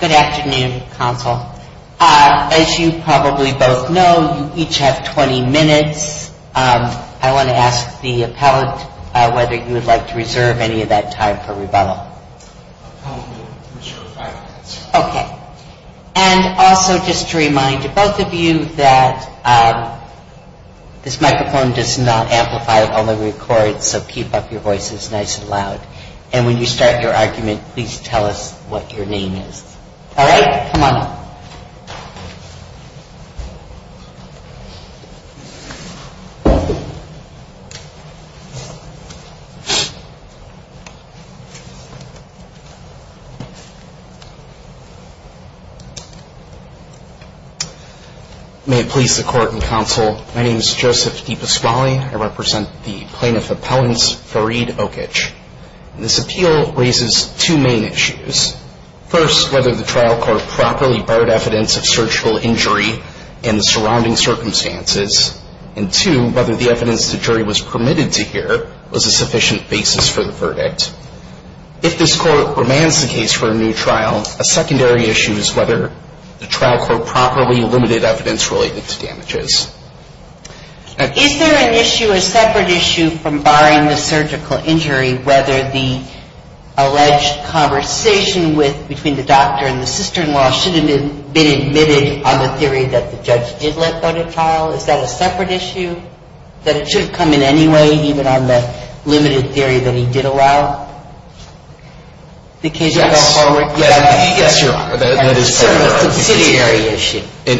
Good afternoon, counsel. As you probably both know, you each have 20 minutes. I want to ask the appellant whether you would like to reserve any of that time for rebuttal. I'll probably reserve five minutes. Okay. And also just to remind both of you that this microphone does not amplify, it only records, so keep up your voices nice and loud. And when you start your argument, please tell us what your name is. All right, come on up. May it please the court and counsel, my name is Joseph DiPasquale. I represent the plaintiff appellant's Fareed Okich. This appeal raises two main issues. First, whether the trial court properly barred evidence of surgical injury and the surrounding circumstances. And two, whether the evidence the jury was permitted to hear was a sufficient basis for the verdict. If this court remands the case for a new trial, a secondary issue is whether the trial court properly limited evidence related to damages. Is there an issue, a separate issue, from barring the surgical injury, whether the alleged conversation with, between the doctor and the sister-in-law should have been admitted on the theory that the judge did let go to trial? Is that a separate issue? That it should have come in any way, even on the limited theory that he did allow the case to go forward? Yes, Your Honor.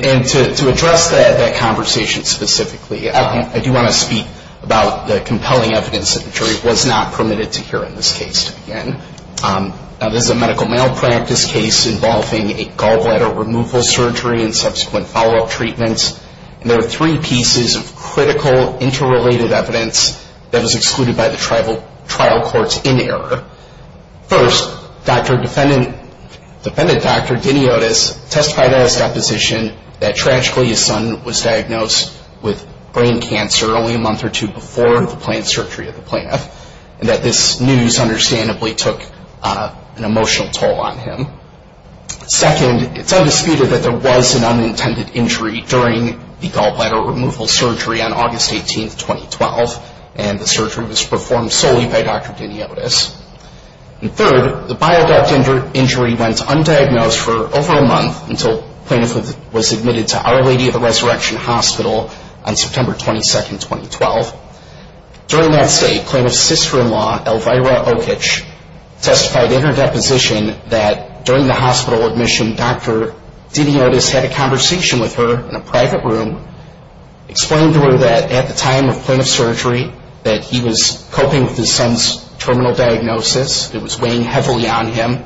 And to address that conversation specifically, I do want to speak about the compelling evidence that the jury was not permitted to hear in this case to begin. This is a medical malpractice case involving a gallbladder removal surgery and subsequent follow-up treatments. And there are three pieces of critical interrelated evidence that was excluded by the trial courts in error. First, defendant Dr. Diniotis testified at his deposition that tragically his son was diagnosed with brain cancer only a month or two before the planned surgery of the plaintiff. And that this news understandably took an emotional toll on him. Second, it's undisputed that there was an unintended injury during the gallbladder removal surgery on August 18, 2012. And the surgery was performed solely by Dr. Diniotis. And third, the bile duct injury went undiagnosed for over a month until the plaintiff was admitted to Our Lady of the Resurrection Hospital on September 22, 2012. During that stay, plaintiff's sister-in-law, Elvira Okich, testified in her deposition that during the hospital admission, Dr. Diniotis had a conversation with her in a private room, explained to her that at the time of plaintiff's surgery, that he was coping with his son's terminal diagnosis, it was weighing heavily on him,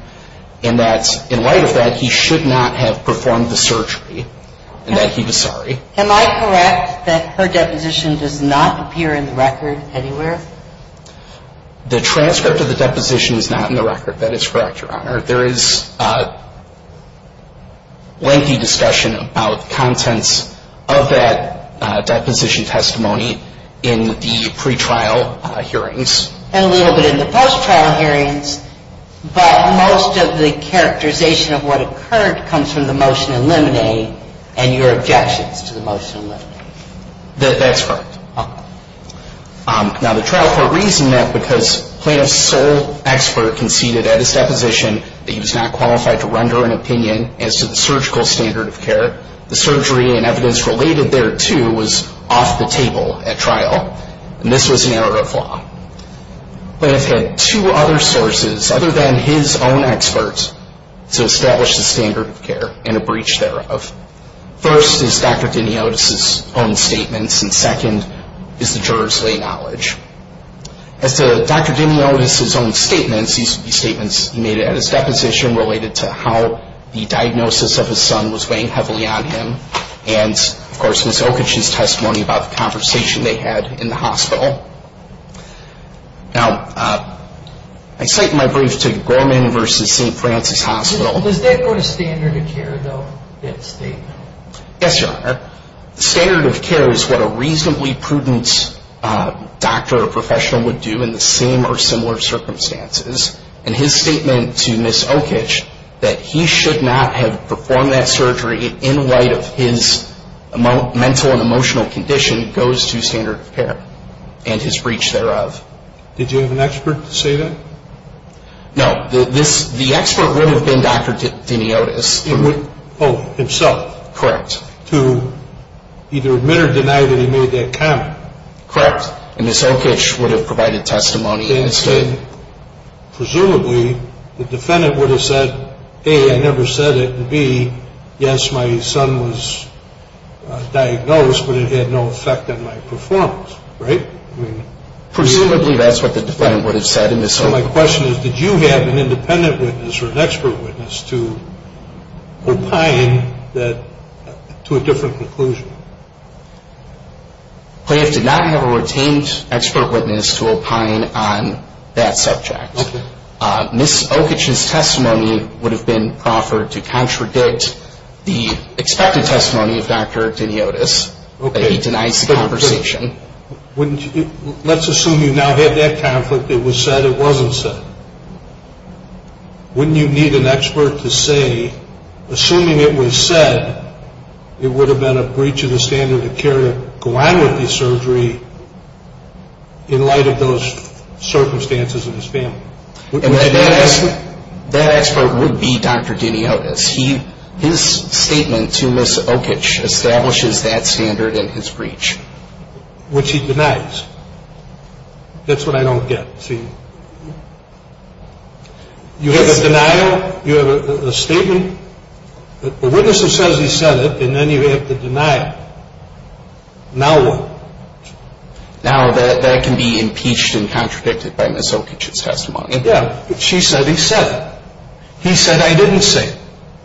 and that in light of that, he should not have performed the surgery, and that he was sorry. Am I correct that her deposition does not appear in the record anywhere? The transcript of the deposition is not in the record. That is correct, Your Honor. There is lengthy discussion about contents of that deposition testimony in the pre-trial hearings. And a little bit in the post-trial hearings. But most of the characterization of what occurred comes from the motion in limine and your objections to the motion in limine. That's correct. Now, the trial court reasoned that because plaintiff's sole expert conceded at his deposition that he was not qualified to render an opinion as to the surgical standard of care, the surgery and evidence related thereto was off the table at trial, and this was an error of law. Plaintiff had two other sources, other than his own expert, to establish the standard of care and a breach thereof. First is Dr. Diniotis' own statements, and second is the juror's lay knowledge. As to Dr. Diniotis' own statements, these would be statements he made at his deposition related to how the diagnosis of his son was weighing heavily on him, and, of course, Ms. Okich's testimony about the conversation they had in the hospital. Now, I cite in my brief to Gorman v. St. Francis Hospital. Does that go to standard of care, though, that statement? Yes, Your Honor. Standard of care is what a reasonably prudent doctor or professional would do in the same or similar circumstances, and his statement to Ms. Okich that he should not have performed that surgery in light of his mental and emotional condition goes to standard of care and his breach thereof. Did you have an expert to say that? No. The expert would have been Dr. Diniotis. Oh, himself? Correct. To either admit or deny that he made that comment? Correct. And Ms. Okich would have provided testimony instead? Presumably. The defendant would have said, A, I never said it, and, B, yes, my son was diagnosed, but it had no effect on my performance, right? Presumably that's what the defendant would have said. So my question is, did you have an independent witness or an expert witness to opine to a different conclusion? Plaintiff did not have a retained expert witness to opine on that subject. Ms. Okich's testimony would have been proffered to contradict the expected testimony of Dr. Diniotis, that he denies the conversation. Let's assume you now have that conflict. It was said, it wasn't said. Wouldn't you need an expert to say, assuming it was said, it would have been a breach of the standard of care to go on with the surgery in light of those circumstances in his family? That expert would be Dr. Diniotis. His statement to Ms. Okich establishes that standard in his breach. Which he denies. That's what I don't get. You have a denial. You have a statement. The witness says he said it, and then you have the denial. Now what? Now that can be impeached and contradicted by Ms. Okich's testimony. Yeah, but she said he said it. He said I didn't say it.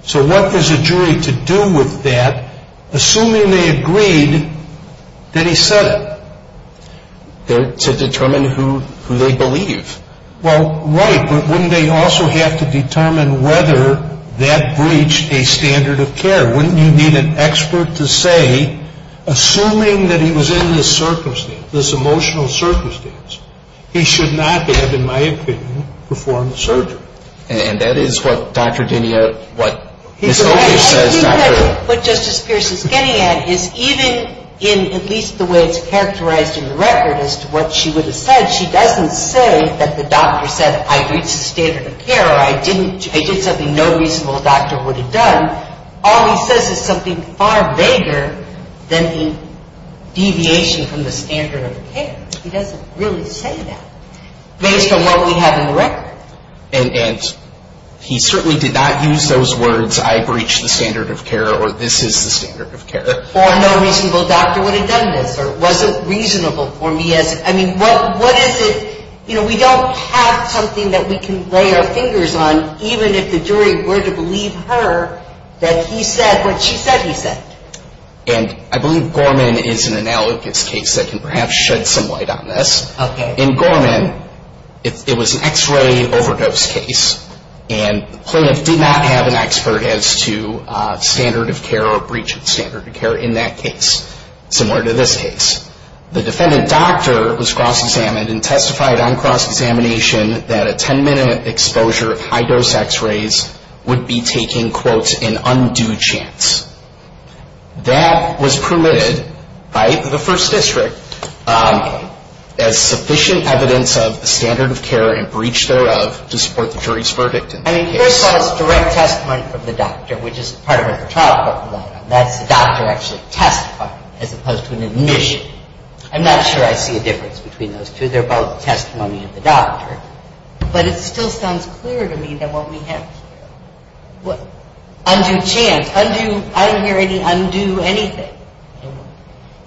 So what was the jury to do with that, assuming they agreed that he said it? To determine who they believe. Well, right, but wouldn't they also have to determine whether that breached a standard of care? Wouldn't you need an expert to say, assuming that he was in this circumstance, this emotional circumstance, he should not have, in my opinion, performed the surgery? And that is what Dr. Diniotis, what Ms. Okich says. What Justice Pierce is getting at is even in at least the way it's characterized in the record as to what she would have said, she doesn't say that the doctor said I breached the standard of care or I did something no reasonable doctor would have done. All he says is something far vaguer than the deviation from the standard of care. He doesn't really say that based on what we have in the record. And he certainly did not use those words, I breached the standard of care or this is the standard of care. Or no reasonable doctor would have done this or it wasn't reasonable for me. I mean, what is it? You know, we don't have something that we can lay our fingers on, even if the jury were to believe her that he said what she said he said. And I believe Gorman is an analogous case that can perhaps shed some light on this. In Gorman, it was an x-ray overdose case and the plaintiff did not have an expert as to standard of care or breach of standard of care in that case, similar to this case. The defendant doctor was cross-examined and testified on cross-examination that a 10-minute exposure of high-dose x-rays would be taking, quote, an undue chance. That was permitted by the First District as sufficient evidence of standard of care and breach thereof to support the jury's verdict in that case. I mean, first of all, it's direct testimony from the doctor, which is part of a trial court. That's the doctor actually testifying as opposed to an admission. I'm not sure I see a difference between those two. They're both testimony of the doctor. But it still sounds clearer to me than what we have here. Undue chance, undue – I didn't hear any undue anything.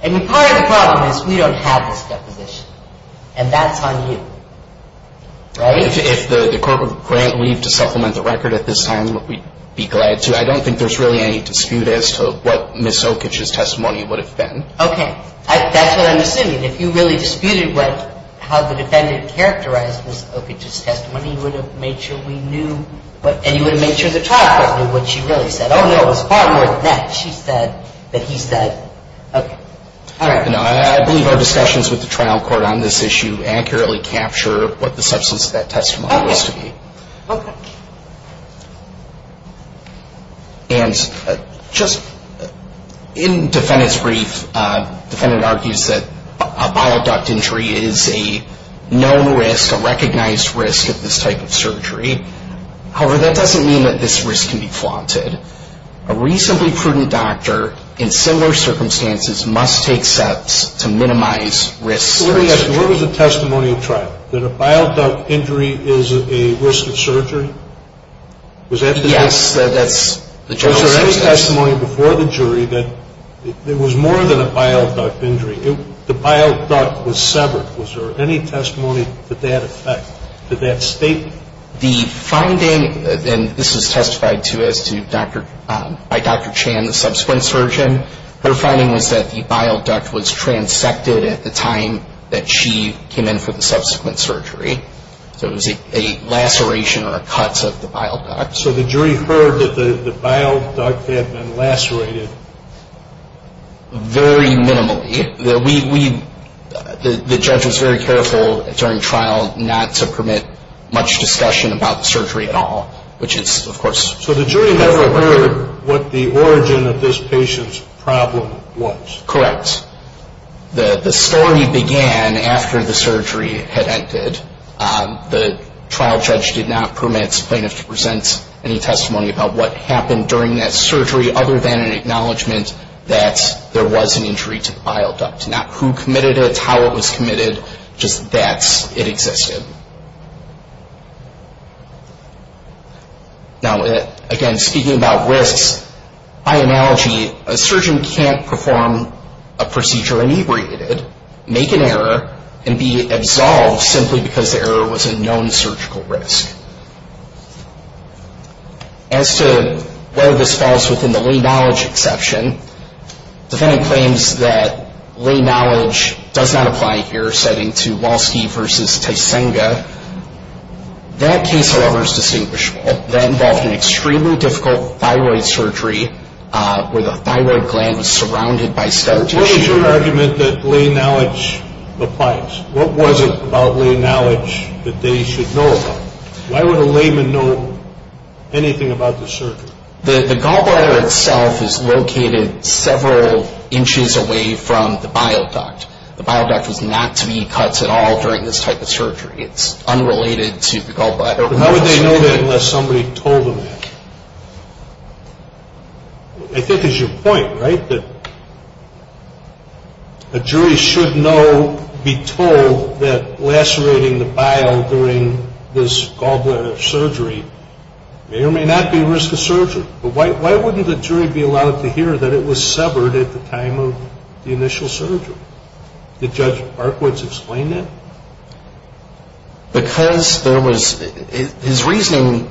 I mean, part of the problem is we don't have this deposition, and that's on you. Right? If the court would grant leave to supplement the record at this time, we'd be glad to. I don't think there's really any dispute as to what Ms. Okich's testimony would have been. Okay. That's what I'm assuming. If you really disputed what – how the defendant characterized Ms. Okich's testimony, you would have made sure we knew what – and you would have made sure the trial court knew what she really said. Oh, no, it was far more than that. She said that he said – okay. No, I believe our discussions with the trial court on this issue accurately capture what the substance of that testimony was to be. Okay. And just in the defendant's brief, the defendant argues that a bile duct injury is a known risk, a recognized risk of this type of surgery. However, that doesn't mean that this risk can be flaunted. A recently prudent doctor in similar circumstances must take steps to minimize risks. What was the testimony of trial? That a bile duct injury is a risk of surgery? Yes. Was there any testimony before the jury that it was more than a bile duct injury? The bile duct was severed. Was there any testimony to that effect, to that statement? The finding – and this was testified to as to by Dr. Chan, the subsequent surgeon. Her finding was that the bile duct was transected at the time that she came in for the subsequent surgery. So it was a laceration or a cut of the bile duct. So the jury heard that the bile duct had been lacerated? Very minimally. The judge was very careful during trial not to permit much discussion about the surgery at all, which is, of course – So the jury never heard what the origin of this patient's problem was? Correct. The story began after the surgery had ended. The trial judge did not permit plaintiffs to present any testimony about what happened during that surgery other than an acknowledgment that there was an injury to the bile duct. Not who committed it, how it was committed, just that it existed. Now, again, speaking about risks, by analogy, a surgeon can't perform a procedure inebriated, make an error, and be absolved simply because the error was a known surgical risk. As to whether this falls within the lay knowledge exception, the defendant claims that lay knowledge does not apply here, That case, however, is distinguishable. That involved an extremely difficult thyroid surgery where the thyroid gland was surrounded by scar tissue. What was your argument that lay knowledge applies? What was it about lay knowledge that they should know about? Why would a layman know anything about this surgery? The gallbladder itself is located several inches away from the bile duct. The bile duct was not to be cut at all during this type of surgery. It's unrelated to the gallbladder. But how would they know that unless somebody told them that? I think it's your point, right, that a jury should know, be told, that lacerating the bile during this gallbladder surgery may or may not be a risk of surgery. But why wouldn't the jury be allowed to hear that it was severed at the time of the initial surgery? Did Judge Parkwood explain that? Because there was his reasoning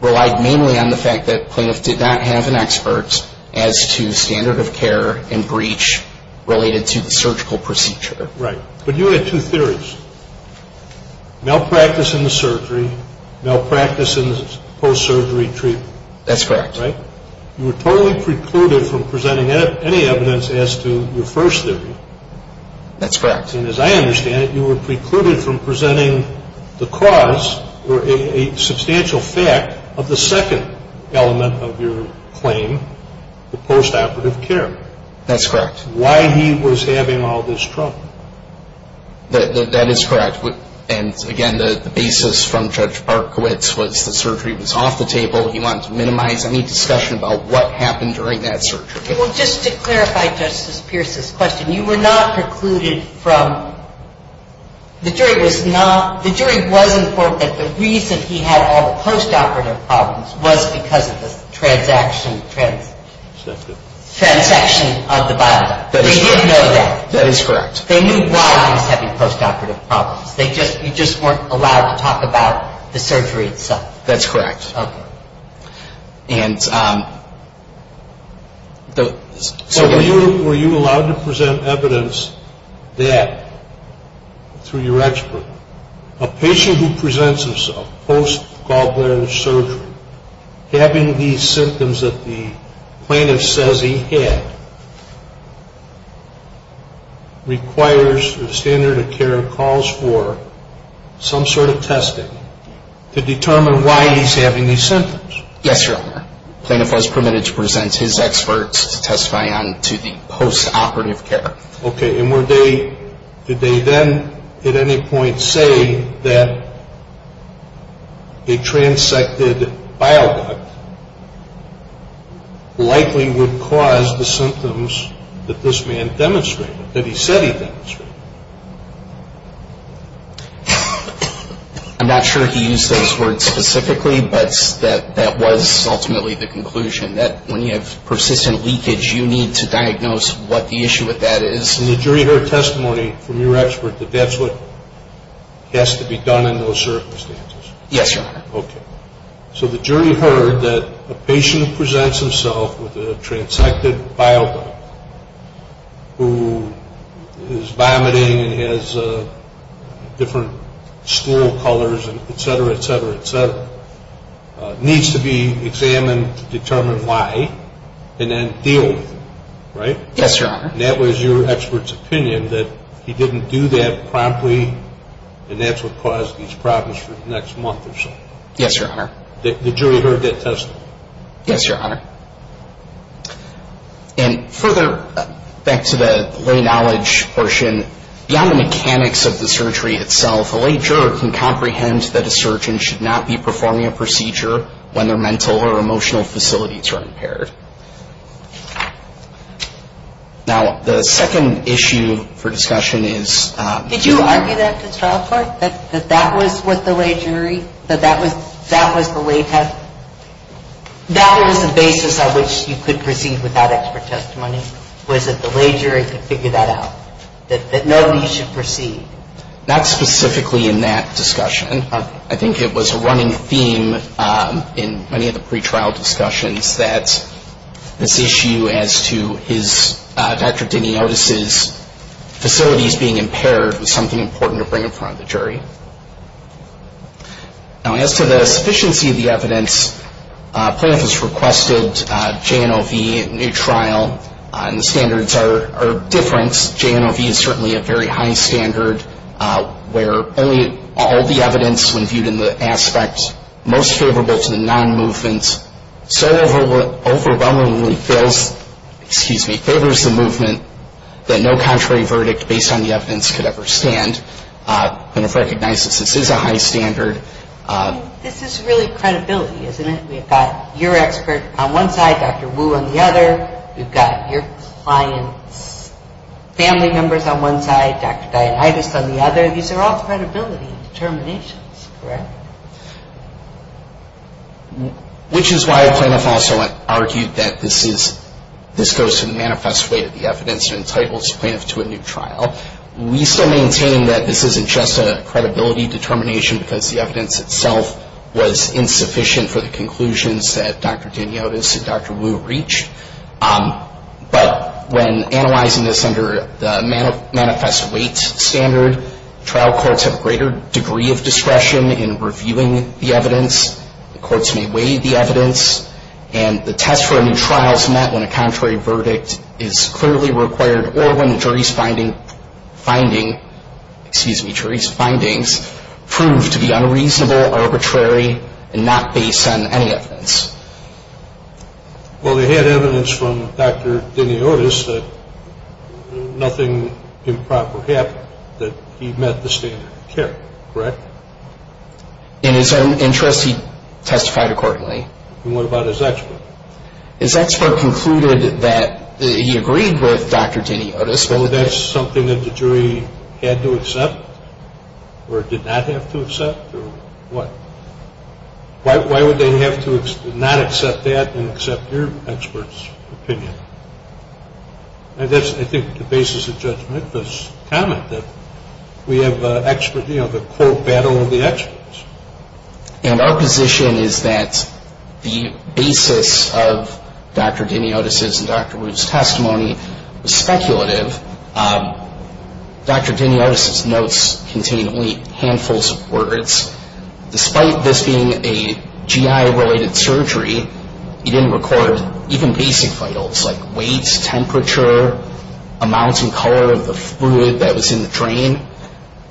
relied mainly on the fact that plaintiffs did not have an expert as to standard of care and breach related to the surgical procedure. Right. But you had two theories, malpractice in the surgery, malpractice in the post-surgery treatment. That's correct. Right? You were totally precluded from presenting any evidence as to your first theory. That's correct. And as I understand it, you were precluded from presenting the cause or a substantial fact of the second element of your claim, the post-operative care. That's correct. Why he was having all this trouble. That is correct. And again, the basis from Judge Parkwood's was the surgery was off the table, he wanted to minimize any discussion about what happened during that surgery. Well, just to clarify Justice Pierce's question, you were not precluded from, the jury was not, the jury was informed that the reason he had all the post-operative problems was because of the transaction of the bile duct. They didn't know that. That is correct. They knew why he was having post-operative problems. They just, you just weren't allowed to talk about the surgery itself. That's correct. Okay. And the... So were you allowed to present evidence that, through your expert, a patient who presents himself post-Gaubler surgery, having these symptoms that the plaintiff says he had, requires or the standard of care calls for some sort of testing to determine why he's having these symptoms? Yes, Your Honor. The plaintiff was permitted to present his experts to testify on to the post-operative care. Okay. And were they, did they then at any point say that a transected bile duct likely would cause the symptoms that this man demonstrated, that he said he demonstrated? I'm not sure he used those words specifically, but that was ultimately the conclusion, that when you have persistent leakage, you need to diagnose what the issue with that is. And the jury heard testimony from your expert that that's what has to be done in those circumstances? Yes, Your Honor. Okay. So the jury heard that a patient who presents himself with a transected bile duct, who is vomiting and has different stool colors and et cetera, et cetera, et cetera, needs to be examined to determine why and then deal with it, right? Yes, Your Honor. And that was your expert's opinion, that he didn't do that promptly and that's what caused these problems for the next month or so? Yes, Your Honor. The jury heard that testimony? Yes, Your Honor. And further back to the lay knowledge portion, beyond the mechanics of the surgery itself, the lay juror can comprehend that a surgeon should not be performing a procedure when their mental or emotional facilities are impaired. Now, the second issue for discussion is... Did you argue that at the trial court, that that was what the lay jury, that that was the lay test? That was the basis on which you could proceed without expert testimony, was that the lay jury could figure that out, that nobody should proceed? Not specifically in that discussion. I think it was a running theme in many of the pretrial discussions that this issue as to his, Dr. Diniotis' facilities being impaired was something important to bring in front of the jury. Now, as to the sufficiency of the evidence, Plaintiff has requested J&OV, a new trial, and the standards are different. This J&OV is certainly a very high standard where only all the evidence when viewed in the aspect most favorable to the non-movement so overwhelmingly favors the movement that no contrary verdict based on the evidence could ever stand. Plaintiff recognizes this is a high standard. This is really credibility, isn't it? We've got your expert on one side, Dr. Wu on the other. We've got your client's family members on one side, Dr. Diniotis on the other. These are all credibility determinations, correct? Which is why Plaintiff also argued that this goes to the manifest way to the evidence and entitles Plaintiff to a new trial. We still maintain that this isn't just a credibility determination because the evidence itself was insufficient for the conclusions that Dr. Diniotis and Dr. Wu reached. But when analyzing this under the manifest weight standard, trial courts have a greater degree of discretion in reviewing the evidence. The courts may weigh the evidence. And the test for a new trial is met when a contrary verdict is clearly required or when the jury's findings prove to be unreasonable, arbitrary, and not based on any evidence. Well, they had evidence from Dr. Diniotis that nothing improper happened, that he met the standard of care, correct? In his own interest, he testified accordingly. And what about his expert? His expert concluded that he agreed with Dr. Diniotis. Well, that's something that the jury had to accept or did not have to accept, or what? Why would they have to not accept that and accept your expert's opinion? That's, I think, the basis of Judge Memphis' comment that we have an expert, you know, the cold battle of the experts. And our position is that the basis of Dr. Diniotis' and Dr. Wu's testimony was speculative. Dr. Diniotis' notes contained only handfuls of words. Despite this being a GI-related surgery, he didn't record even basic vitals like weight, temperature, amounts and color of the fluid that was in the drain.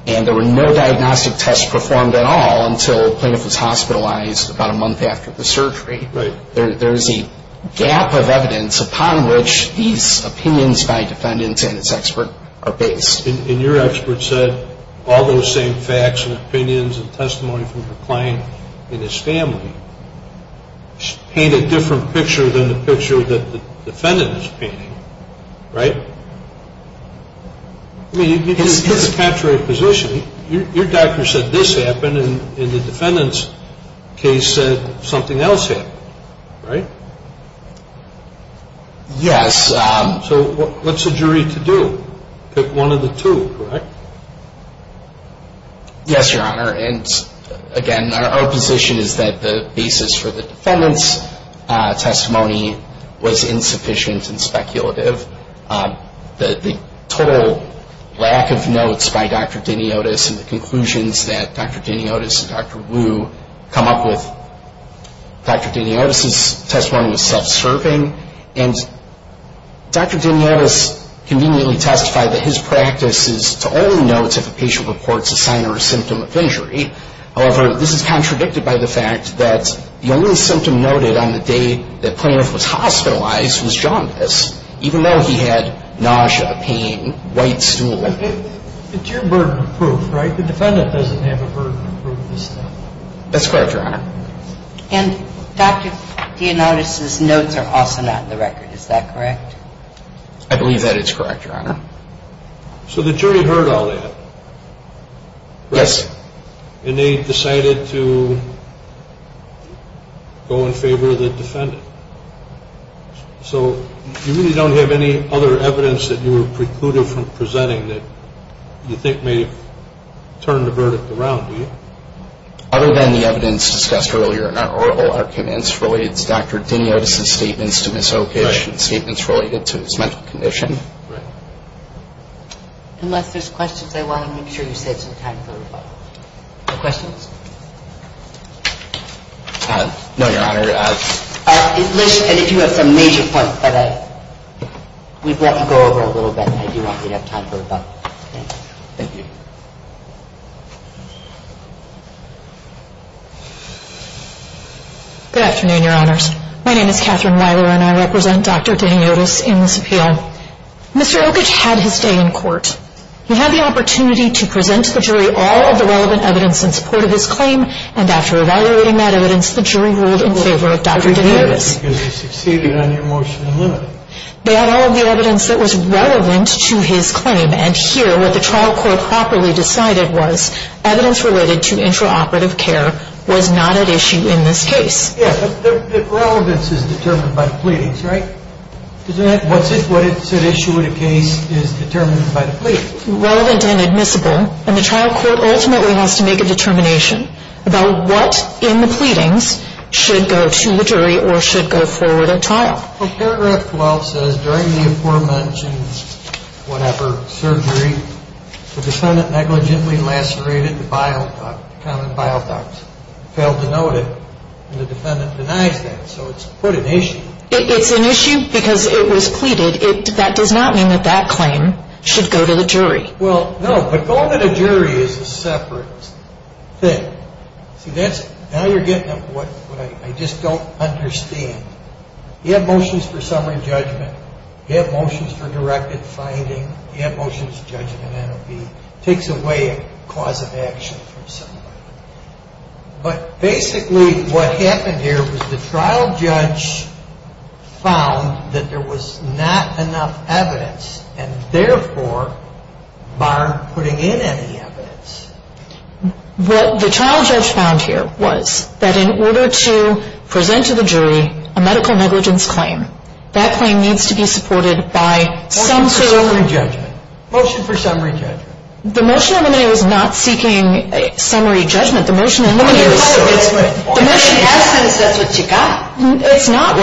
And there were no diagnostic tests performed at all until the plaintiff was hospitalized about a month after the surgery. There is a gap of evidence upon which these opinions by defendants and his expert are based. And your expert said all those same facts and opinions and testimony from your client and his family paint a different picture than the picture that the defendant is painting, right? I mean, you get the contrary position. Your doctor said this happened, and the defendant's case said something else happened, right? Yes. So what's the jury to do? Pick one of the two, correct? Yes, Your Honor. And, again, our position is that the basis for the defendant's testimony was insufficient and speculative. The total lack of notes by Dr. Diniotis and the conclusions that Dr. Diniotis and Dr. Wu come up with, Dr. Diniotis' testimony was self-serving. And Dr. Diniotis conveniently testified that his practice is to only note if a patient reports a sign or a symptom of injury. However, this is contradicted by the fact that the only symptom noted on the day the plaintiff was hospitalized was jaundice. Even though he had nausea, pain, white stool. It's your burden of proof, right? The defendant doesn't have a burden of proof of this stuff. That's correct, Your Honor. And Dr. Diniotis' notes are also not in the record. Is that correct? I believe that it's correct, Your Honor. So the jury heard all that. Yes. And they decided to go in favor of the defendant. So you really don't have any other evidence that you were precluded from presenting that you think may have turned the verdict around, do you? Other than the evidence discussed earlier in our oral arguments related to Dr. Diniotis' statements to Ms. Oakage and statements related to his mental condition. Right. Unless there's questions, I want to make sure you save some time for rebuttal. No questions? No, Your Honor. Unless you have some major points that we'd like to go over a little bit, I do want to have time for rebuttal. Thank you. Good afternoon, Your Honors. My name is Catherine Weiler and I represent Dr. Diniotis in this appeal. Mr. Oakage had his day in court. He had the opportunity to present to the jury all of the relevant evidence in support of his claim. And after evaluating that evidence, the jury ruled in favor of Dr. Diniotis. Because he succeeded on your motion to limit it. They had all of the evidence that was relevant to his claim. And here, what the trial court properly decided was evidence related to intraoperative care was not at issue in this case. Yes, but the relevance is determined by the pleadings, right? What's at issue in a case is determined by the pleadings. It's relevant and admissible. And the trial court ultimately has to make a determination about what in the pleadings should go to the jury or should go forward at trial. Well, paragraph 12 says, during the aforementioned, whatever, surgery, the defendant negligently lacerated the bile duct, common bile duct. Failed to note it, and the defendant denies that. So it's, quote, an issue. It's an issue because it was pleaded. That does not mean that that claim should go to the jury. Well, no, but going to the jury is a separate thing. See, that's, now you're getting at what I just don't understand. You have motions for summary judgment. You have motions for directed finding. You have motions for judgment and it takes away a cause of action from somebody. But basically what happened here was the trial judge found that there was not enough evidence and therefore barred putting in any evidence. What the trial judge found here was that in order to present to the jury a medical negligence claim, that claim needs to be supported by some sort of... Motion for summary judgment. Motion for summary judgment. The motion eliminated was not seeking summary judgment. The motion eliminated was... The motion asked us that's what you got. It's not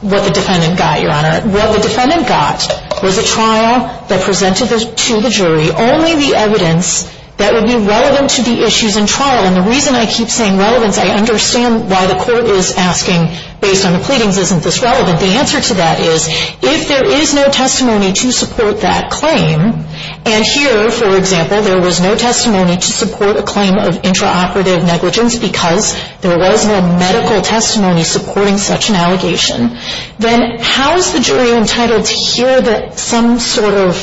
what the defendant got, Your Honor. What the defendant got was a trial that presented to the jury only the evidence that would be relevant to the issues in trial. And the reason I keep saying relevance, I understand why the court is asking based on the pleadings isn't this relevant. The answer to that is if there is no testimony to support that claim and here, for example, there was no testimony to support a claim of intraoperative negligence because there was no medical testimony supporting such an allegation, then how is the jury entitled to hear some sort of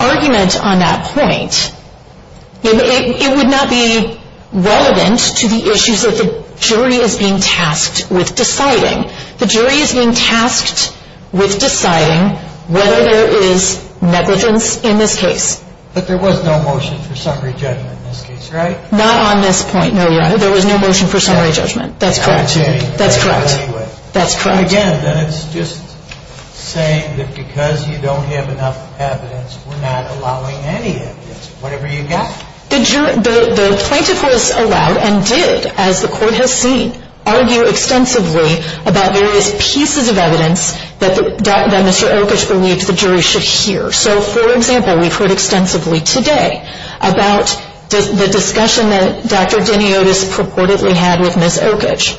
argument on that point? It would not be relevant to the issues that the jury is being tasked with deciding. The jury is being tasked with deciding whether there is negligence in this case. But there was no motion for summary judgment in this case, right? Not on this point, no, Your Honor. There was no motion for summary judgment. That's correct. That's correct. That's correct. Again, then it's just saying that because you don't have enough evidence, we're not allowing any evidence. Whatever you got. The plaintiff was allowed and did, as the court has seen, argue extensively about various pieces of evidence that Mr. Oakage believed the jury should hear. So, for example, we've heard extensively today about the discussion that Dr. Deni Otis purportedly had with Ms. Oakage.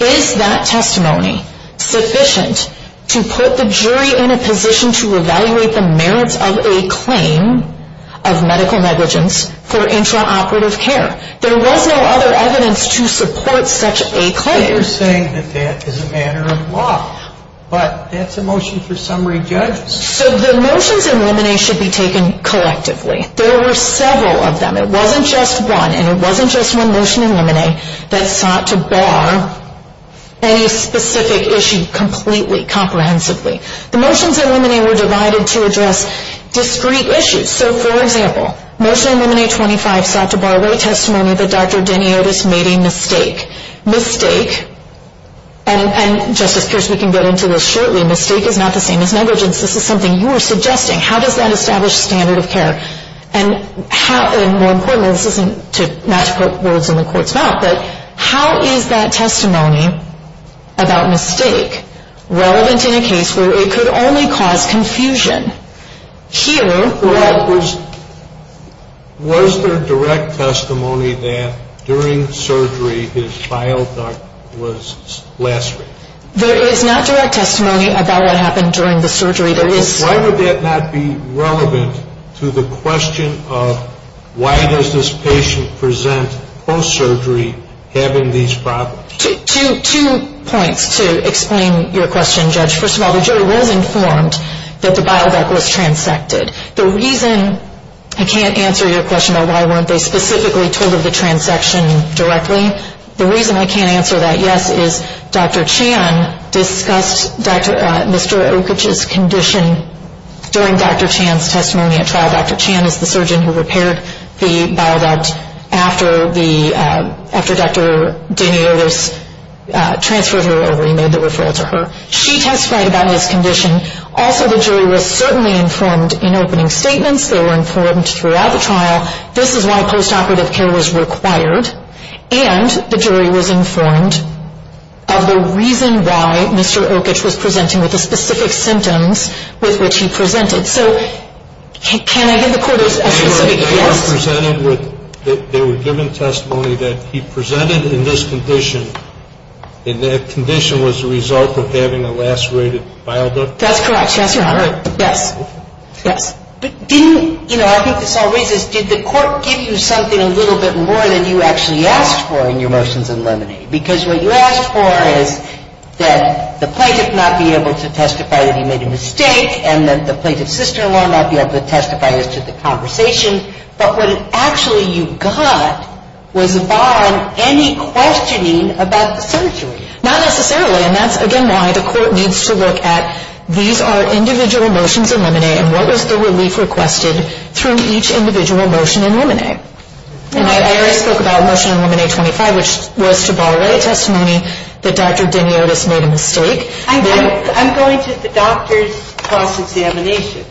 Is that testimony sufficient to put the jury in a position to evaluate the merits of a claim of medical negligence for intraoperative care? There was no other evidence to support such a claim. You're saying that that is a matter of law, but that's a motion for summary judgment. So the motions in limine should be taken collectively. There were several of them. It wasn't just one, and it wasn't just one motion in limine that sought to bar any specific issue completely, comprehensively. The motions in limine were divided to address discrete issues. So, for example, motion in limine 25 sought to bar a testimony that Dr. Deni Otis made a mistake. Mistake, and Justice Pierce, we can get into this shortly, mistake is not the same as negligence. This is something you were suggesting. How does that establish standard of care? And more importantly, this is not to put words in the court's mouth, but how is that testimony about mistake relevant in a case where it could only cause confusion? Was there direct testimony that during surgery his bile duct was lacerated? There is not direct testimony about what happened during the surgery. Why would that not be relevant to the question of why does this patient present post-surgery having these problems? Two points to explain your question, Judge. First of all, the jury was informed that the bile duct was transected. The reason I can't answer your question about why weren't they specifically told of the transection directly, the reason I can't answer that yes is Dr. Chan discussed Mr. Okich's condition during Dr. Chan's testimony at trial. Dr. Chan is the surgeon who repaired the bile duct after Dr. Deni Otis transferred her over. He made the referral to her. She testified about his condition. Also, the jury was certainly informed in opening statements. They were informed throughout the trial. This is why post-operative care was required. And the jury was informed of the reason why Mr. Okich was presenting with the specific symptoms with which he presented. So can I give the court a specific guess? They were given testimony that he presented in this condition, and that condition was the result of having a lacerated bile duct? That's correct. Yes, Your Honor. Yes. But didn't, you know, I think this all raises, did the court give you something a little bit more than you actually asked for in your motions in limine? Because what you asked for is that the plaintiff not be able to testify that he made a mistake, and that the plaintiff's sister-in-law not be able to testify as to the conversation. But what actually you got was barring any questioning about the surgery. Not necessarily. And that's, again, why the court needs to look at these are individual motions in limine, and what was the relief requested through each individual motion in limine. And I already spoke about a motion in limine 25, which was to borrow a testimony that Dr. Diniotis made a mistake. I'm going to the doctor's cross-examination.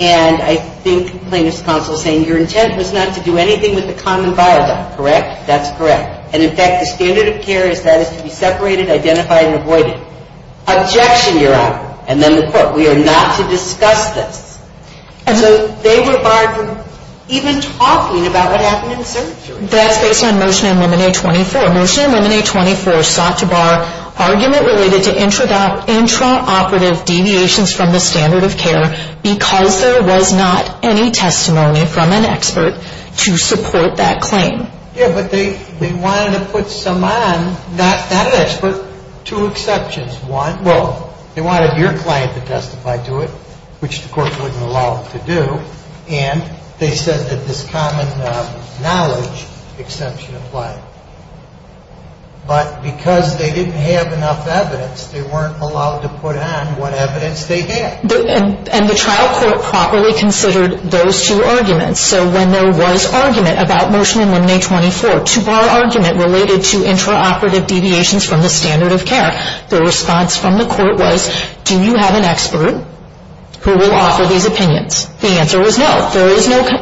And I think the plaintiff's counsel is saying your intent was not to do anything with the common bile duct, correct? That's correct. And, in fact, the standard of care is that it should be separated, identified, and avoided. Objection, your Honor. And then the court, we are not to discuss this. And so they were barred from even talking about what happened in the surgery. That's based on motion in limine 24. Motion in limine 24 sought to borrow argument related to intraoperative deviations from the standard of care because there was not any testimony from an expert to support that claim. Yeah, but they wanted to put some on, not an expert, two exceptions. One, well, they wanted your client to testify to it, which the court wouldn't allow them to do. And they said that this common knowledge exception applied. But because they didn't have enough evidence, they weren't allowed to put on what evidence they had. And the trial court properly considered those two arguments. So when there was argument about motion in limine 24, to borrow argument related to intraoperative deviations from the standard of care, the response from the court was, do you have an expert who will offer these opinions? The answer was no.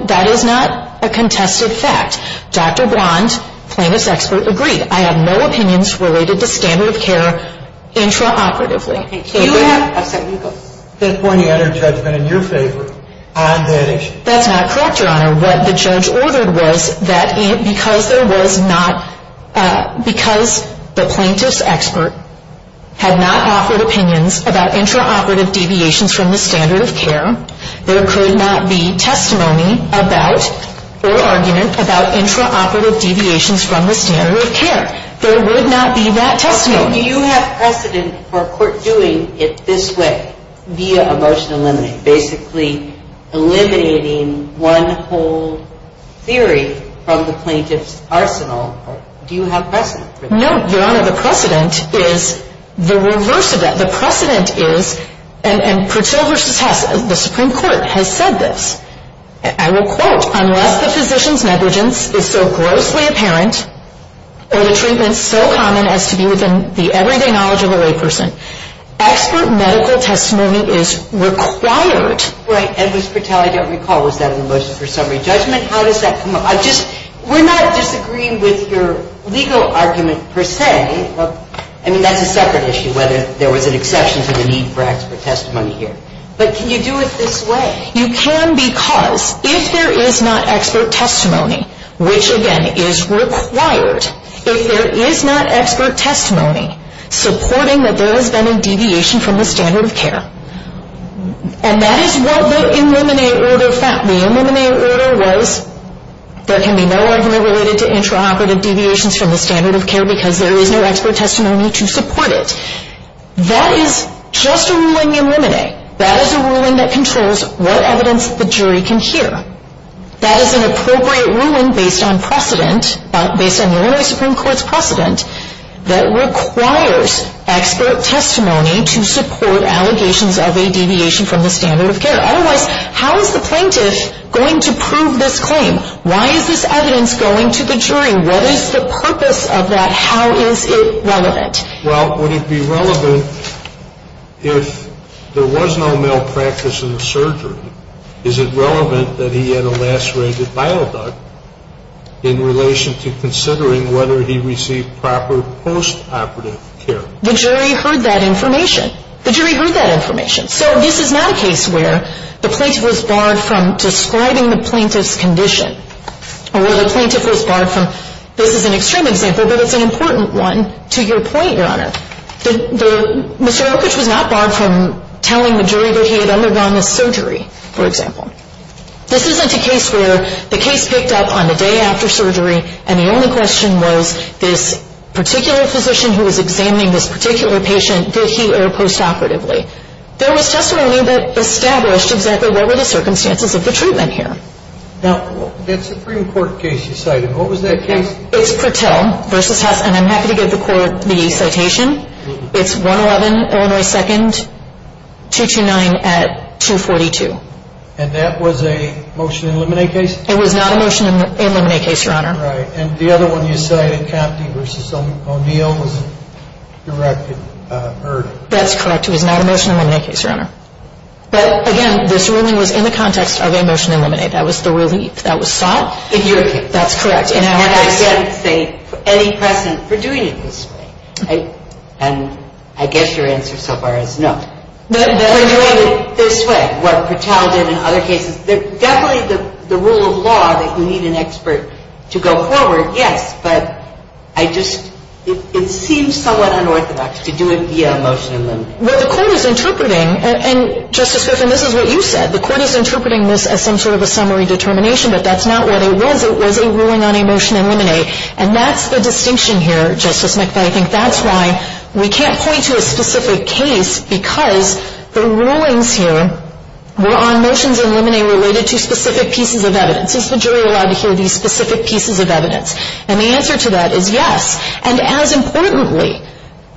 That is not a contested fact. Dr. Blond, plaintiff's expert, agreed. I have no opinions related to standard of care intraoperatively. Okay. You have a second to go. Fifth point of your Honor, judgment in your favor on that issue. That's not correct, Your Honor. What the judge ordered was that because there was not, because the plaintiff's expert had not offered opinions about intraoperative deviations from the standard of care, there could not be testimony about or argument about intraoperative deviations from the standard of care. There would not be that testimony. Do you have precedent for a court doing it this way, via a motion in limine, basically eliminating one whole theory from the plaintiff's arsenal? Do you have precedent for that? No, Your Honor. The precedent is the reverse of that. The precedent is, and Purcell v. Hess, the Supreme Court, has said this, and I will quote, unless the physician's negligence is so grossly apparent, or the treatment is so common as to be within the everyday knowledge of a layperson, expert medical testimony is required. Right. And Ms. Purcell, I don't recall, was that in the motion for summary judgment? How does that come up? We're not disagreeing with your legal argument, per se. I mean, that's a separate issue, whether there was an exception to the need for expert testimony here. But can you do it this way? You can because if there is not expert testimony, which, again, is required, if there is not expert testimony supporting that there has been a deviation from the standard of care, and that is what the in limine order found. The in limine order was there can be no argument related to intraoperative deviations from the standard of care because there is no expert testimony to support it. That is just a ruling in limine. That is a ruling that controls what evidence the jury can hear. That is an appropriate ruling based on precedent, based on Illinois Supreme Court's precedent, that requires expert testimony to support allegations of a deviation from the standard of care. Otherwise, how is the plaintiff going to prove this claim? Why is this evidence going to the jury? What is the purpose of that? How is it relevant? Well, would it be relevant if there was no malpractice in the surgery? Is it relevant that he had a last-rated bile duct in relation to considering whether he received proper postoperative care? The jury heard that information. The jury heard that information. So this is not a case where the plaintiff was barred from describing the plaintiff's condition or where the plaintiff was barred from. This is an extreme example, but it's an important one to your point, Your Honor. Mr. Oakridge was not barred from telling the jury that he had undergone this surgery, for example. This isn't a case where the case picked up on the day after surgery and the only question was this particular physician who was examining this particular patient, did he err postoperatively? There was testimony that established exactly what were the circumstances of the treatment here. That Supreme Court case you cited, what was that case? It's Purtill v. Hess, and I'm happy to give the court the citation. It's 111 Illinois 2nd, 229 at 242. And that was a motion to eliminate case? It was not a motion to eliminate case, Your Honor. Right. And the other one you cited, Compte v. O'Neill, was a directed murder. That's correct. It was not a motion to eliminate case, Your Honor. But, again, this ruling was in the context of a motion to eliminate. That was the relief that was sought. In your case. That's correct. And I can't say any precedent for doing it this way. And I guess your answer so far is no. For doing it this way, what Purtill did in other cases. Definitely the rule of law that you need an expert to go forward, yes. But I just – it seems somewhat unorthodox to do it via a motion to eliminate. Well, the Court is interpreting – and, Justice Kiffin, this is what you said. The Court is interpreting this as some sort of a summary determination. But that's not what it was. It was a ruling on a motion to eliminate. And that's the distinction here, Justice McFadden. That's why we can't point to a specific case because the rulings here were on motions to eliminate related to specific pieces of evidence. Is the jury allowed to hear these specific pieces of evidence? And the answer to that is yes. And as importantly,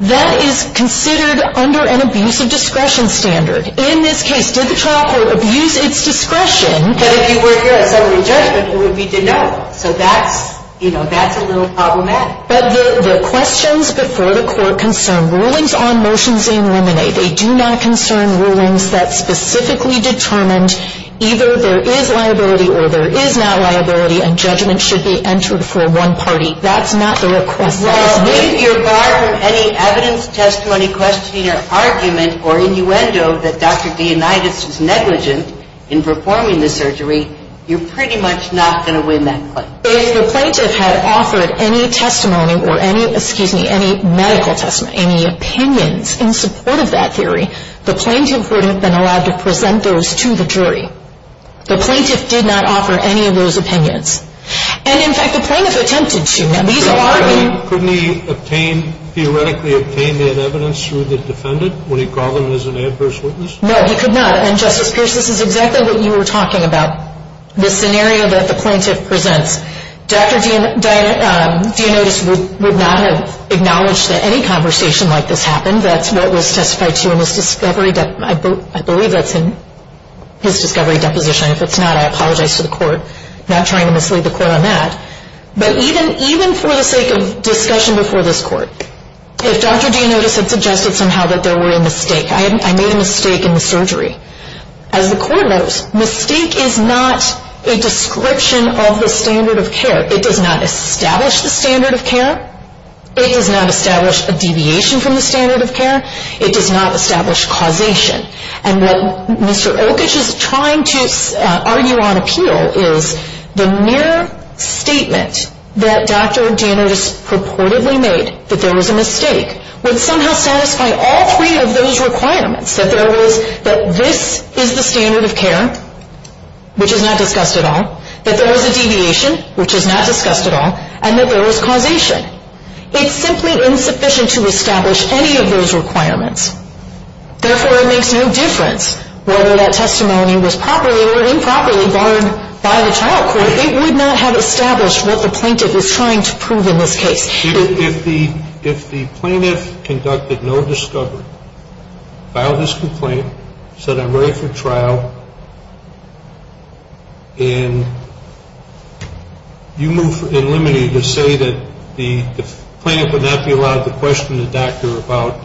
that is considered under an abuse of discretion standard. In this case, did the trial court abuse its discretion? But if you were here at summary judgment, it would be denied. So that's – you know, that's a little problematic. But the questions before the Court concern rulings on motions to eliminate. They do not concern rulings that specifically determined either there is liability or there is not liability and judgment should be entered for one party. That's not the request. Well, if you're barred from any evidence, testimony, questioning, or argument, or innuendo that Dr. Dionytus was negligent in performing the surgery, you're pretty much not going to win that case. If the plaintiff had offered any testimony or any – excuse me – any medical testimony, any opinions in support of that theory, the plaintiff would have been allowed to present those to the jury. The plaintiff did not offer any of those opinions. And, in fact, the plaintiff attempted to. Now, these are – Couldn't he obtain – theoretically obtain that evidence through the defendant when he called him as an adverse witness? No, he could not. And, Justice Pierce, this is exactly what you were talking about, the scenario that the plaintiff presents. Dr. Dionytus would not have acknowledged that any conversation like this happened. That's what was testified to in his discovery – I believe that's in his discovery deposition. If it's not, I apologize to the court. I'm not trying to mislead the court on that. But even for the sake of discussion before this court, if Dr. Dionytus had suggested somehow that there were a mistake – I made a mistake in the surgery. As the court knows, mistake is not a description of the standard of care. It does not establish the standard of care. It does not establish a deviation from the standard of care. It does not establish causation. And what Mr. Okich is trying to argue on appeal is the mere statement that Dr. Dionytus purportedly made, that there was a mistake, would somehow satisfy all three of those requirements, that there was – that this is the standard of care, which is not discussed at all, that there was a deviation, which is not discussed at all, and that there was causation. It's simply insufficient to establish any of those requirements. Therefore, it makes no difference whether that testimony was properly or improperly borne by the trial court. It would not have established what the plaintiff was trying to prove in this case. If the plaintiff conducted no discovery, filed this complaint, said I'm ready for trial, and you move in limine to say that the plaintiff would not be allowed to question the doctor about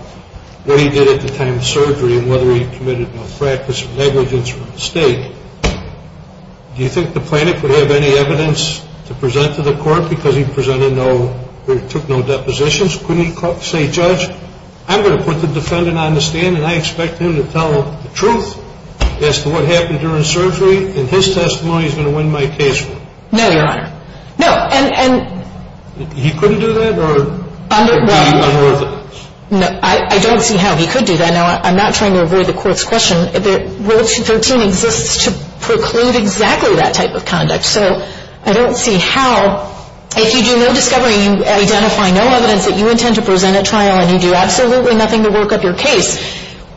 what he did at the time of surgery and whether he committed no fracas or negligence or mistake, do you think the plaintiff would have any evidence to present to the court because he presented no – or took no depositions? Couldn't he say, Judge, I'm going to put the defendant on the stand and I expect him to tell the truth as to what happened during surgery, and his testimony is going to win my case for me? No, Your Honor. He couldn't do that or – Under – Under evidence. No, I don't see how he could do that. Now, I'm not trying to avoid the court's question. Rule 213 exists to preclude exactly that type of conduct. So I don't see how – if you do no discovery, you identify no evidence that you intend to present at trial, and you do absolutely nothing to work up your case,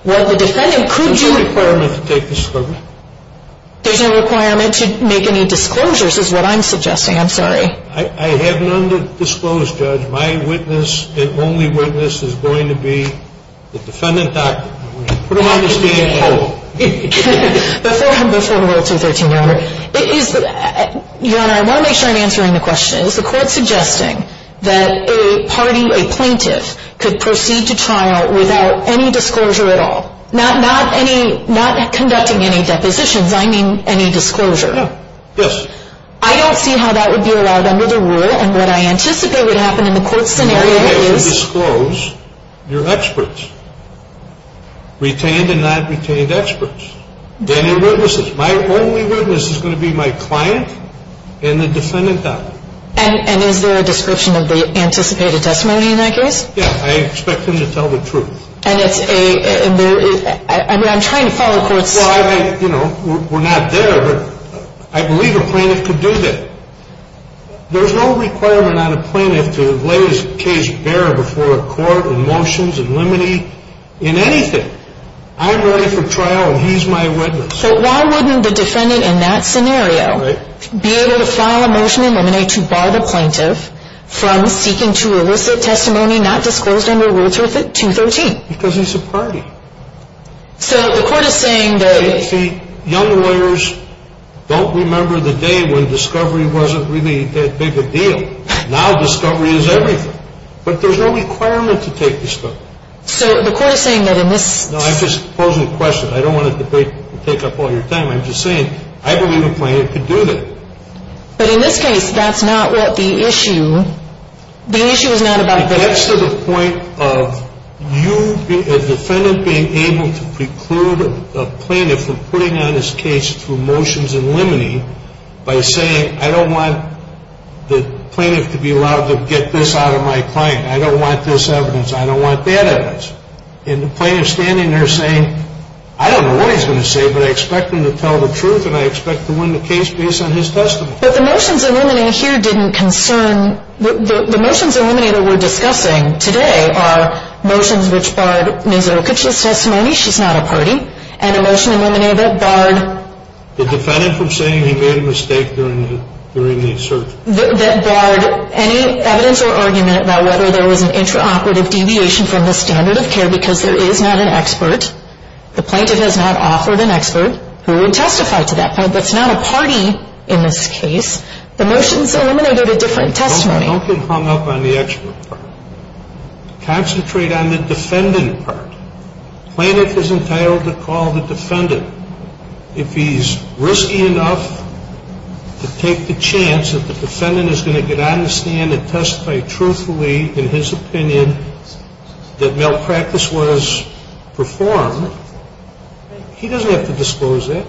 what the defendant could do – There's no requirement to take discovery. There's no requirement to make any disclosures is what I'm suggesting. I'm sorry. I have none to disclose, Judge. My witness and only witness is going to be the defendant doctor. I'm going to put him on the stand and tell him. Before – before Rule 213, Your Honor, it is – Your Honor, I want to make sure I'm answering the question. Is the court suggesting that a party, a plaintiff, could proceed to trial without any disclosure at all? Not – not any – not conducting any depositions. I mean any disclosure. Yes. I don't see how that would be allowed under the rule, and what I anticipate would happen in the court scenario is – Only if you disclose your experts. Retained and not retained experts. Then your witnesses. My only witness is going to be my client and the defendant doctor. And is there a description of the anticipated testimony in that case? Yes. I expect him to tell the truth. And it's a – I mean I'm trying to follow court's – We're not there, but I believe a plaintiff could do that. There's no requirement on a plaintiff to lay his case bare before a court in motions, in limine – in anything. I'm ready for trial and he's my witness. So why wouldn't the defendant in that scenario be able to file a motion in limine to bar the plaintiff from seeking to elicit testimony not disclosed under Rule 213? Because he's a party. So the court is saying that – See, young lawyers don't remember the day when discovery wasn't really that big a deal. Now discovery is everything. But there's no requirement to take discovery. So the court is saying that in this – No, I'm just posing a question. I don't want to debate and take up all your time. I'm just saying I believe a plaintiff could do that. But in this case, that's not what the issue – the issue is not about – That's to the point of you, a defendant, being able to preclude a plaintiff from putting on his case through motions in limine by saying, I don't want the plaintiff to be allowed to get this out of my client. I don't want this evidence. I don't want that evidence. And the plaintiff's standing there saying, I don't know what he's going to say, but I expect him to tell the truth and I expect to win the case based on his testimony. But the motions in limine here didn't concern – the motions in limine that we're discussing today are motions which barred Ms. Okich's testimony. She's not a party. And a motion in limine that barred – The defendant from saying he made a mistake during the search. That barred any evidence or argument about whether there was an intraoperative deviation from the standard of care because there is not an expert. The plaintiff has not offered an expert who would testify to that point. That's not a party in this case. The motions eliminated a different testimony. Don't get hung up on the expert part. Concentrate on the defendant part. The plaintiff is entitled to call the defendant. If he's risky enough to take the chance that the defendant is going to get on the stand and testify truthfully in his opinion that malpractice was performed, he doesn't have to disclose that.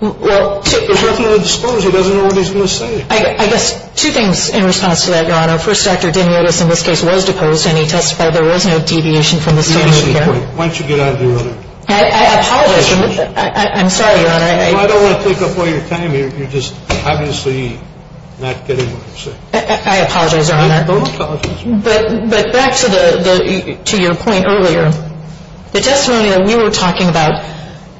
There's nothing to disclose. He doesn't know what he's going to say. I guess two things in response to that, Your Honor. First, Dr. Demiotis in this case was deposed and he testified there was no deviation from the standard of care. Why don't you get out of the room? I apologize. I'm sorry, Your Honor. I don't want to take up all your time here. You're just obviously not getting what you're saying. I apologize, Your Honor. I apologize. But back to the – to your point earlier. The testimony that we were talking about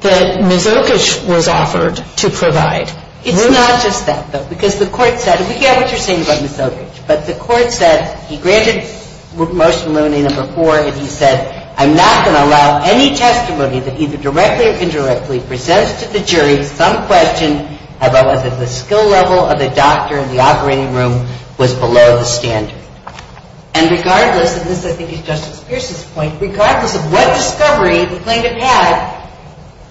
that Ms. Oakage was offered to provide. It's not just that, though, because the Court said – we get what you're saying about Ms. Oakage. But the Court said he granted motion limiting number four and he said, I'm not going to allow any testimony that either directly or indirectly presents to the jury some question as well as if the skill level of the doctor in the operating room was below the standard. And regardless – and this I think is Justice Pierce's point – regardless of what discovery the plaintiff had,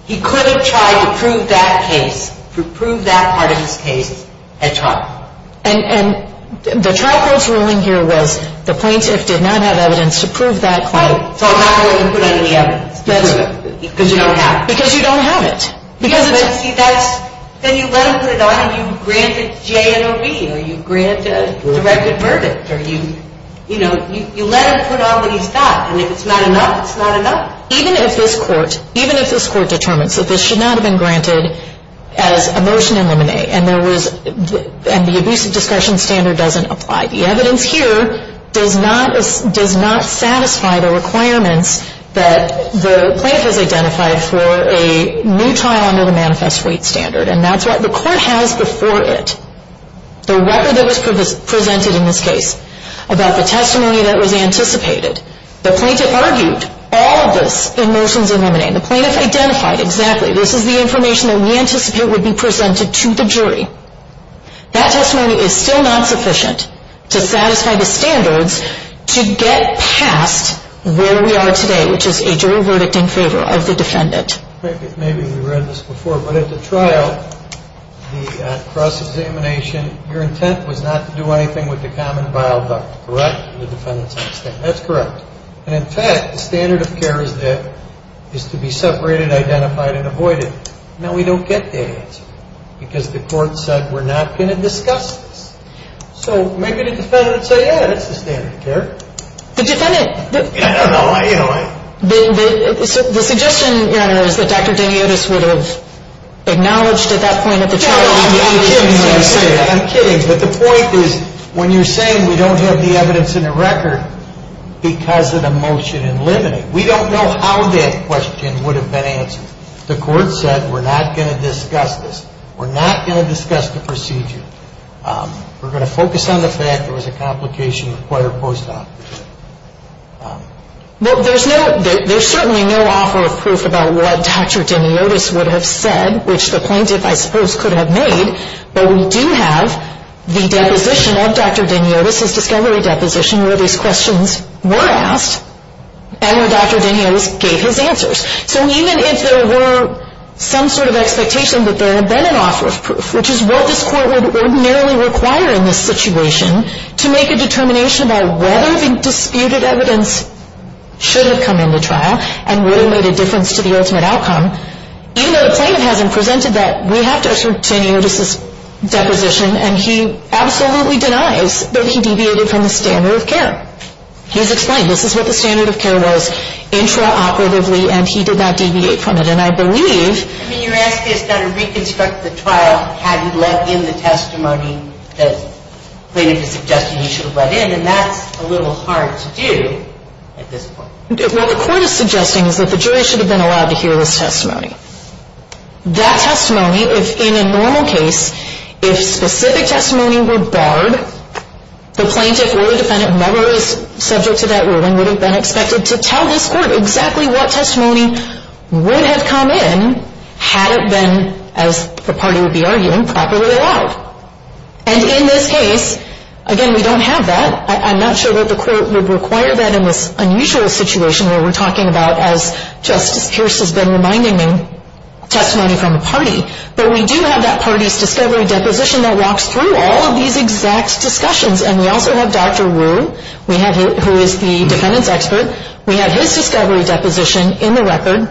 he could have tried to prove that case, to prove that part of his case at trial. And the trial court's ruling here was the plaintiff did not have evidence to prove that claim. So I'm not going to put any evidence to prove it because you don't have it. Because you don't have it. Then you let him put it on and you grant it J.N.O.B. or you grant a directed verdict or you let him put on what he's got. And if it's not enough, it's not enough. Even if this Court – even if this Court determines that this should not have been granted as a motion to eliminate and there was – and the abusive discretion standard doesn't apply. The evidence here does not satisfy the requirements that the plaintiff has identified for a new trial under the manifest weight standard. And that's what the Court has before it. The record that was presented in this case about the testimony that was anticipated. The plaintiff argued all of this in motions eliminating. The plaintiff identified exactly this is the information that we anticipate would be presented to the jury. That testimony is still not sufficient to satisfy the standards to get past where we are today, which is a jury verdict in favor of the defendant. Maybe we read this before, but at the trial, the cross-examination, your intent was not to do anything with the common vial duct, correct? That's correct. And in fact, the standard of care is to be separated, identified, and avoided. Now, we don't get that answer because the Court said we're not going to discuss this. So maybe the defendant would say, yeah, that's the standard of care. The defendant – I don't know. The suggestion, Your Honor, is that Dr. Daniotis would have acknowledged at that point at the trial – I'm kidding. I'm kidding. But the point is when you're saying we don't have the evidence in the record because of the motion eliminating, we don't know how that question would have been answered. The Court said we're not going to discuss this. We're not going to discuss the procedure. We're going to focus on the fact there was a complication in the court of post-op. Well, there's no – there's certainly no offer of proof about what Dr. Daniotis would have said, which the plaintiff, I suppose, could have made. But we do have the deposition of Dr. Daniotis, his discovery deposition, where these questions were asked and where Dr. Daniotis gave his answers. So even if there were some sort of expectation that there had been an offer of proof, which is what this Court would ordinarily require in this situation, to make a determination about whether the disputed evidence should have come into trial and would have made a difference to the ultimate outcome, even though the plaintiff hasn't presented that, we have Dr. Daniotis' deposition, and he absolutely denies that he deviated from the standard of care. He's explained. This is what the standard of care was intraoperatively, and he did not deviate from it. And I believe – I mean, you're asking us how to reconstruct the trial had he let in the testimony that the plaintiff is suggesting he should have let in, and that's a little hard to do at this point. What the Court is suggesting is that the jury should have been allowed to hear this testimony. That testimony, if in a normal case, if specific testimony were barred, the plaintiff or the defendant never was subject to that ruling would have been expected to tell this Court exactly what testimony would have come in had it been, as the party would be arguing, properly allowed. And in this case, again, we don't have that. I'm not sure that the Court would require that in this unusual situation where we're talking about, as Justice Pierce has been reminding me, testimony from a party. But we do have that party's discovery deposition that walks through all of these exact discussions. And we also have Dr. Wu, who is the defendants' expert. We have his discovery deposition in the record,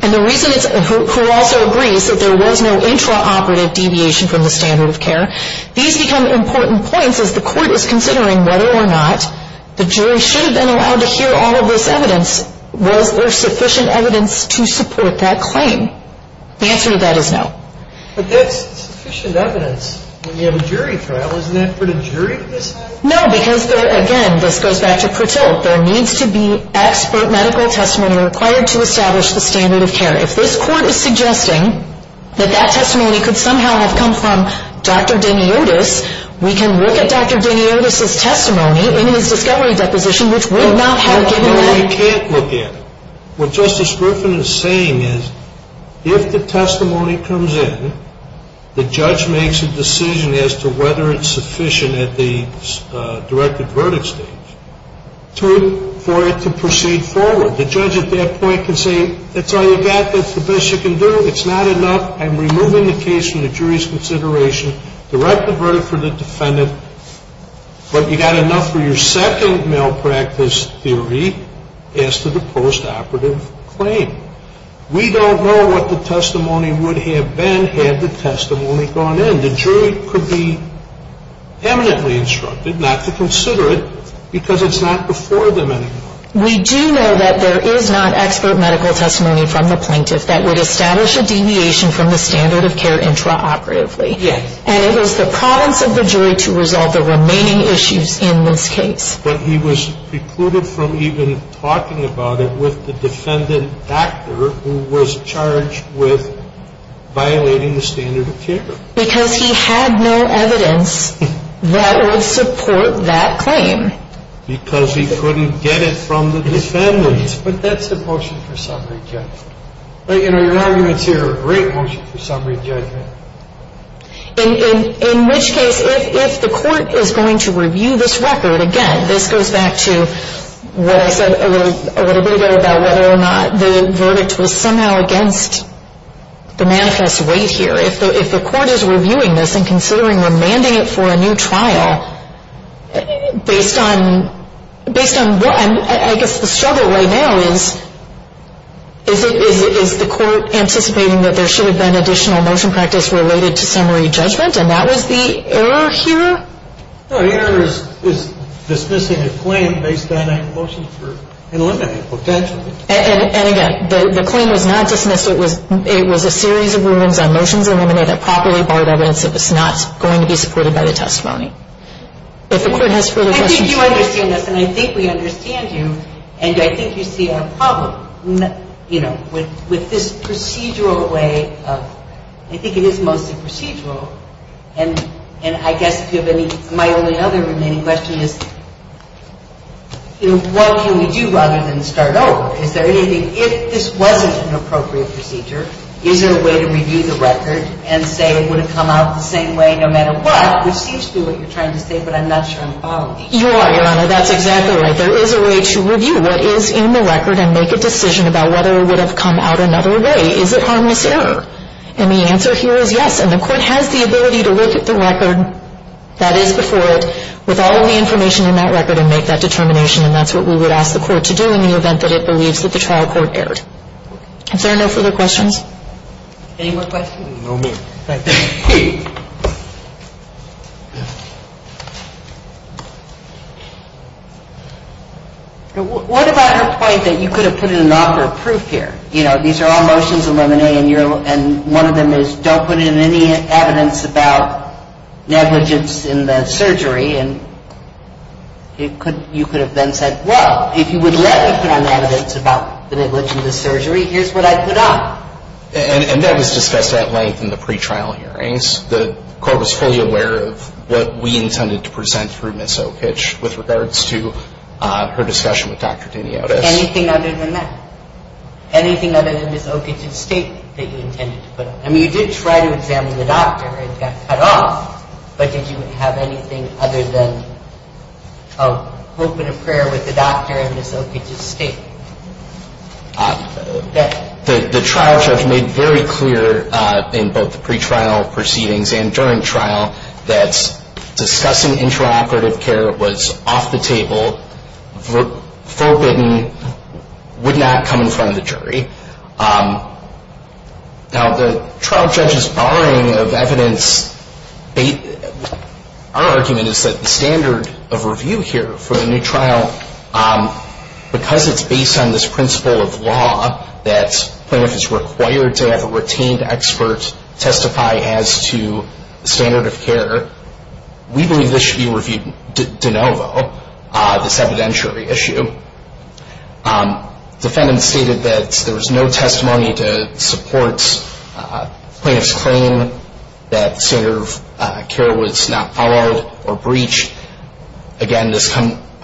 and the reason it's – who also agrees that there was no intraoperative deviation from the standard of care. These become important points as the Court is considering whether or not the jury should have been allowed to hear all of this evidence. Was there sufficient evidence to support that claim? The answer to that is no. But that's sufficient evidence when you have a jury trial. Isn't that pretty jury-less? No, because there – again, this goes back to Pratil. There needs to be expert medical testimony required to establish the standard of care. If this Court is suggesting that that testimony could somehow have come from Dr. Daniotis, we can look at Dr. Daniotis' testimony in his discovery deposition, which would not have given that – No, you can't look at it. What Justice Griffin is saying is if the testimony comes in, the judge makes a decision as to whether it's sufficient at the directed verdict stage for it to proceed forward. The judge at that point can say, that's all you've got, that's the best you can do, it's not enough, I'm removing the case from the jury's consideration, direct the verdict for the defendant, but you've got enough for your second malpractice theory as to the postoperative claim. We don't know what the testimony would have been had the testimony gone in. The jury could be eminently instructed not to consider it because it's not before them anymore. We do know that there is not expert medical testimony from the plaintiff that would establish a deviation from the standard of care intraoperatively. Yes. And it is the province of the jury to resolve the remaining issues in this case. But he was precluded from even talking about it with the defendant actor who was charged with violating the standard of care. Because he had no evidence that would support that claim. Because he couldn't get it from the defendant. But that's the motion for summary judgment. But, you know, your arguments here are a great motion for summary judgment. In which case, if the court is going to review this record, again, this goes back to what I said a little bit ago about whether or not the verdict was somehow against the manifest weight here. If the court is reviewing this and considering remanding it for a new trial, based on what I guess the struggle right now is, is the court anticipating that there should have been additional motion practice related to summary judgment? And that was the error here? No, the error is dismissing a claim based on a motion for eliminating potentially. And again, the claim was not dismissed. It was a series of rulings on motions eliminated, properly barred evidence that was not going to be supported by the testimony. If the court has further questions. I think you understand this. And I think we understand you. And I think you see a problem, you know, with this procedural way of, I think it is mostly procedural. And I guess if you have any, my only other remaining question is, you know, what can we do other than start over? Is there anything, if this wasn't an appropriate procedure, is there a way to review the record and say it would have come out the same way no matter what? Which seems to be what you're trying to say, but I'm not sure I'm following you. You are, Your Honor. That's exactly right. There is a way to review what is in the record and make a decision about whether it would have come out another way. Is it harmless error? And the answer here is yes. And the court has the ability to look at the record that is before it with all of the information in that record and make that determination. And that's what we would ask the court to do in the event that it believes that the trial court erred. If there are no further questions. Any more questions? No, ma'am. Thank you. What about her point that you could have put in an offer of proof here? You know, these are all motions of limine and one of them is don't put in any evidence about negligence in the surgery. And you could have then said, well, if you would let me put on evidence about the negligence in the surgery, here's what I'd put on. And that was discussed at length in the pretrial hearings. The court was fully aware of what we intended to present through Ms. Okich with regards to her discussion with Dr. Diniotis. Anything other than that? Anything other than Ms. Okich's statement that you intended to put on? I mean, you did try to examine the doctor and got cut off, but did you have anything other than a hope and a prayer with the doctor and Ms. Okich's statement? The trial judge made very clear in both the pretrial proceedings and during trial that discussing interoperative care was off the table, forbidden, would not come in front of the jury. Now, the trial judge's barring of evidence, our argument is that the standard of review here for the new trial, because it's based on this principle of law that plaintiff is required to have a retained expert testify as to standard of care, we believe this should be reviewed de novo, this evidentiary issue. Defendant stated that there was no testimony to support plaintiff's claim that standard of care was not followed or breached. Again,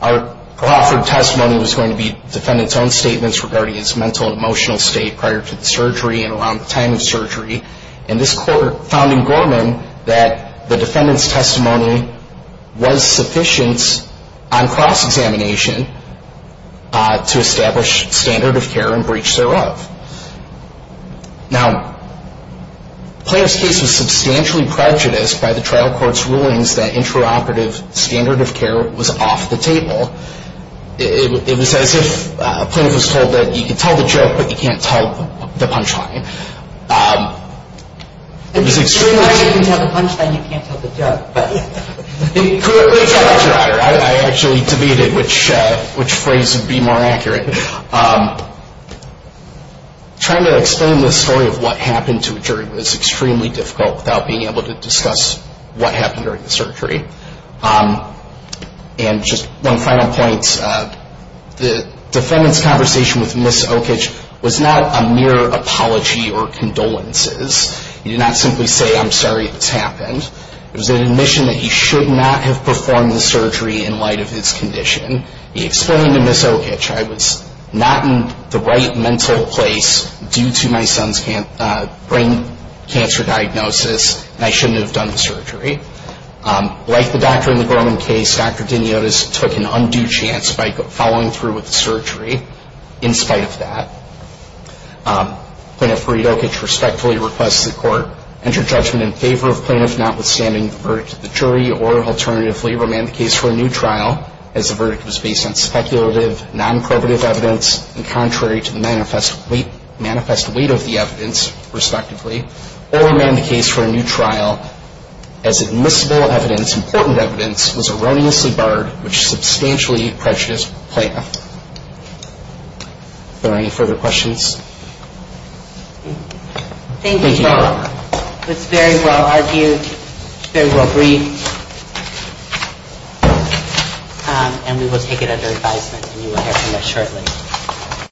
our offered testimony was going to be defendant's own statements regarding his mental and emotional state prior to the surgery and around the time of surgery. And this court found in Gorman that the defendant's testimony was sufficient on cross-examination to establish standard of care and breach thereof. Now, the plaintiff's case was substantially prejudiced by the trial court's rulings that interoperative standard of care was off the table. It was as if a plaintiff was told that you can tell the joke, but you can't tell the punchline. If you can tell the punchline, you can't tell the joke. Correct me if I'm wrong, I actually debated which phrase would be more accurate. Trying to explain the story of what happened to a jury was extremely difficult without being able to discuss what happened during the surgery. And just one final point, the defendant's conversation with Ms. Okich was not a mere apology or condolences. He did not simply say, I'm sorry it's happened. It was an admission that he should not have performed the surgery in light of his condition. He explained to Ms. Okich, I was not in the right mental place due to my son's brain cancer diagnosis, and I shouldn't have done the surgery. Like the doctor in the Gorman case, Dr. Diniotis took an undue chance by following through with the surgery in spite of that. Plaintiff Rita Okich respectfully requests the court enter judgment in favor of plaintiff notwithstanding the verdict of the jury, or alternatively remand the case for a new trial as the verdict was based on speculative, non-probitive evidence, and contrary to the manifest weight of the evidence, respectively. Or remand the case for a new trial as admissible evidence, important evidence, was erroneously barred, which substantially prejudiced plaintiff. Are there any further questions? Thank you. It's very well argued, very well briefed, and we will take it under advisement, and you will hear from us shortly.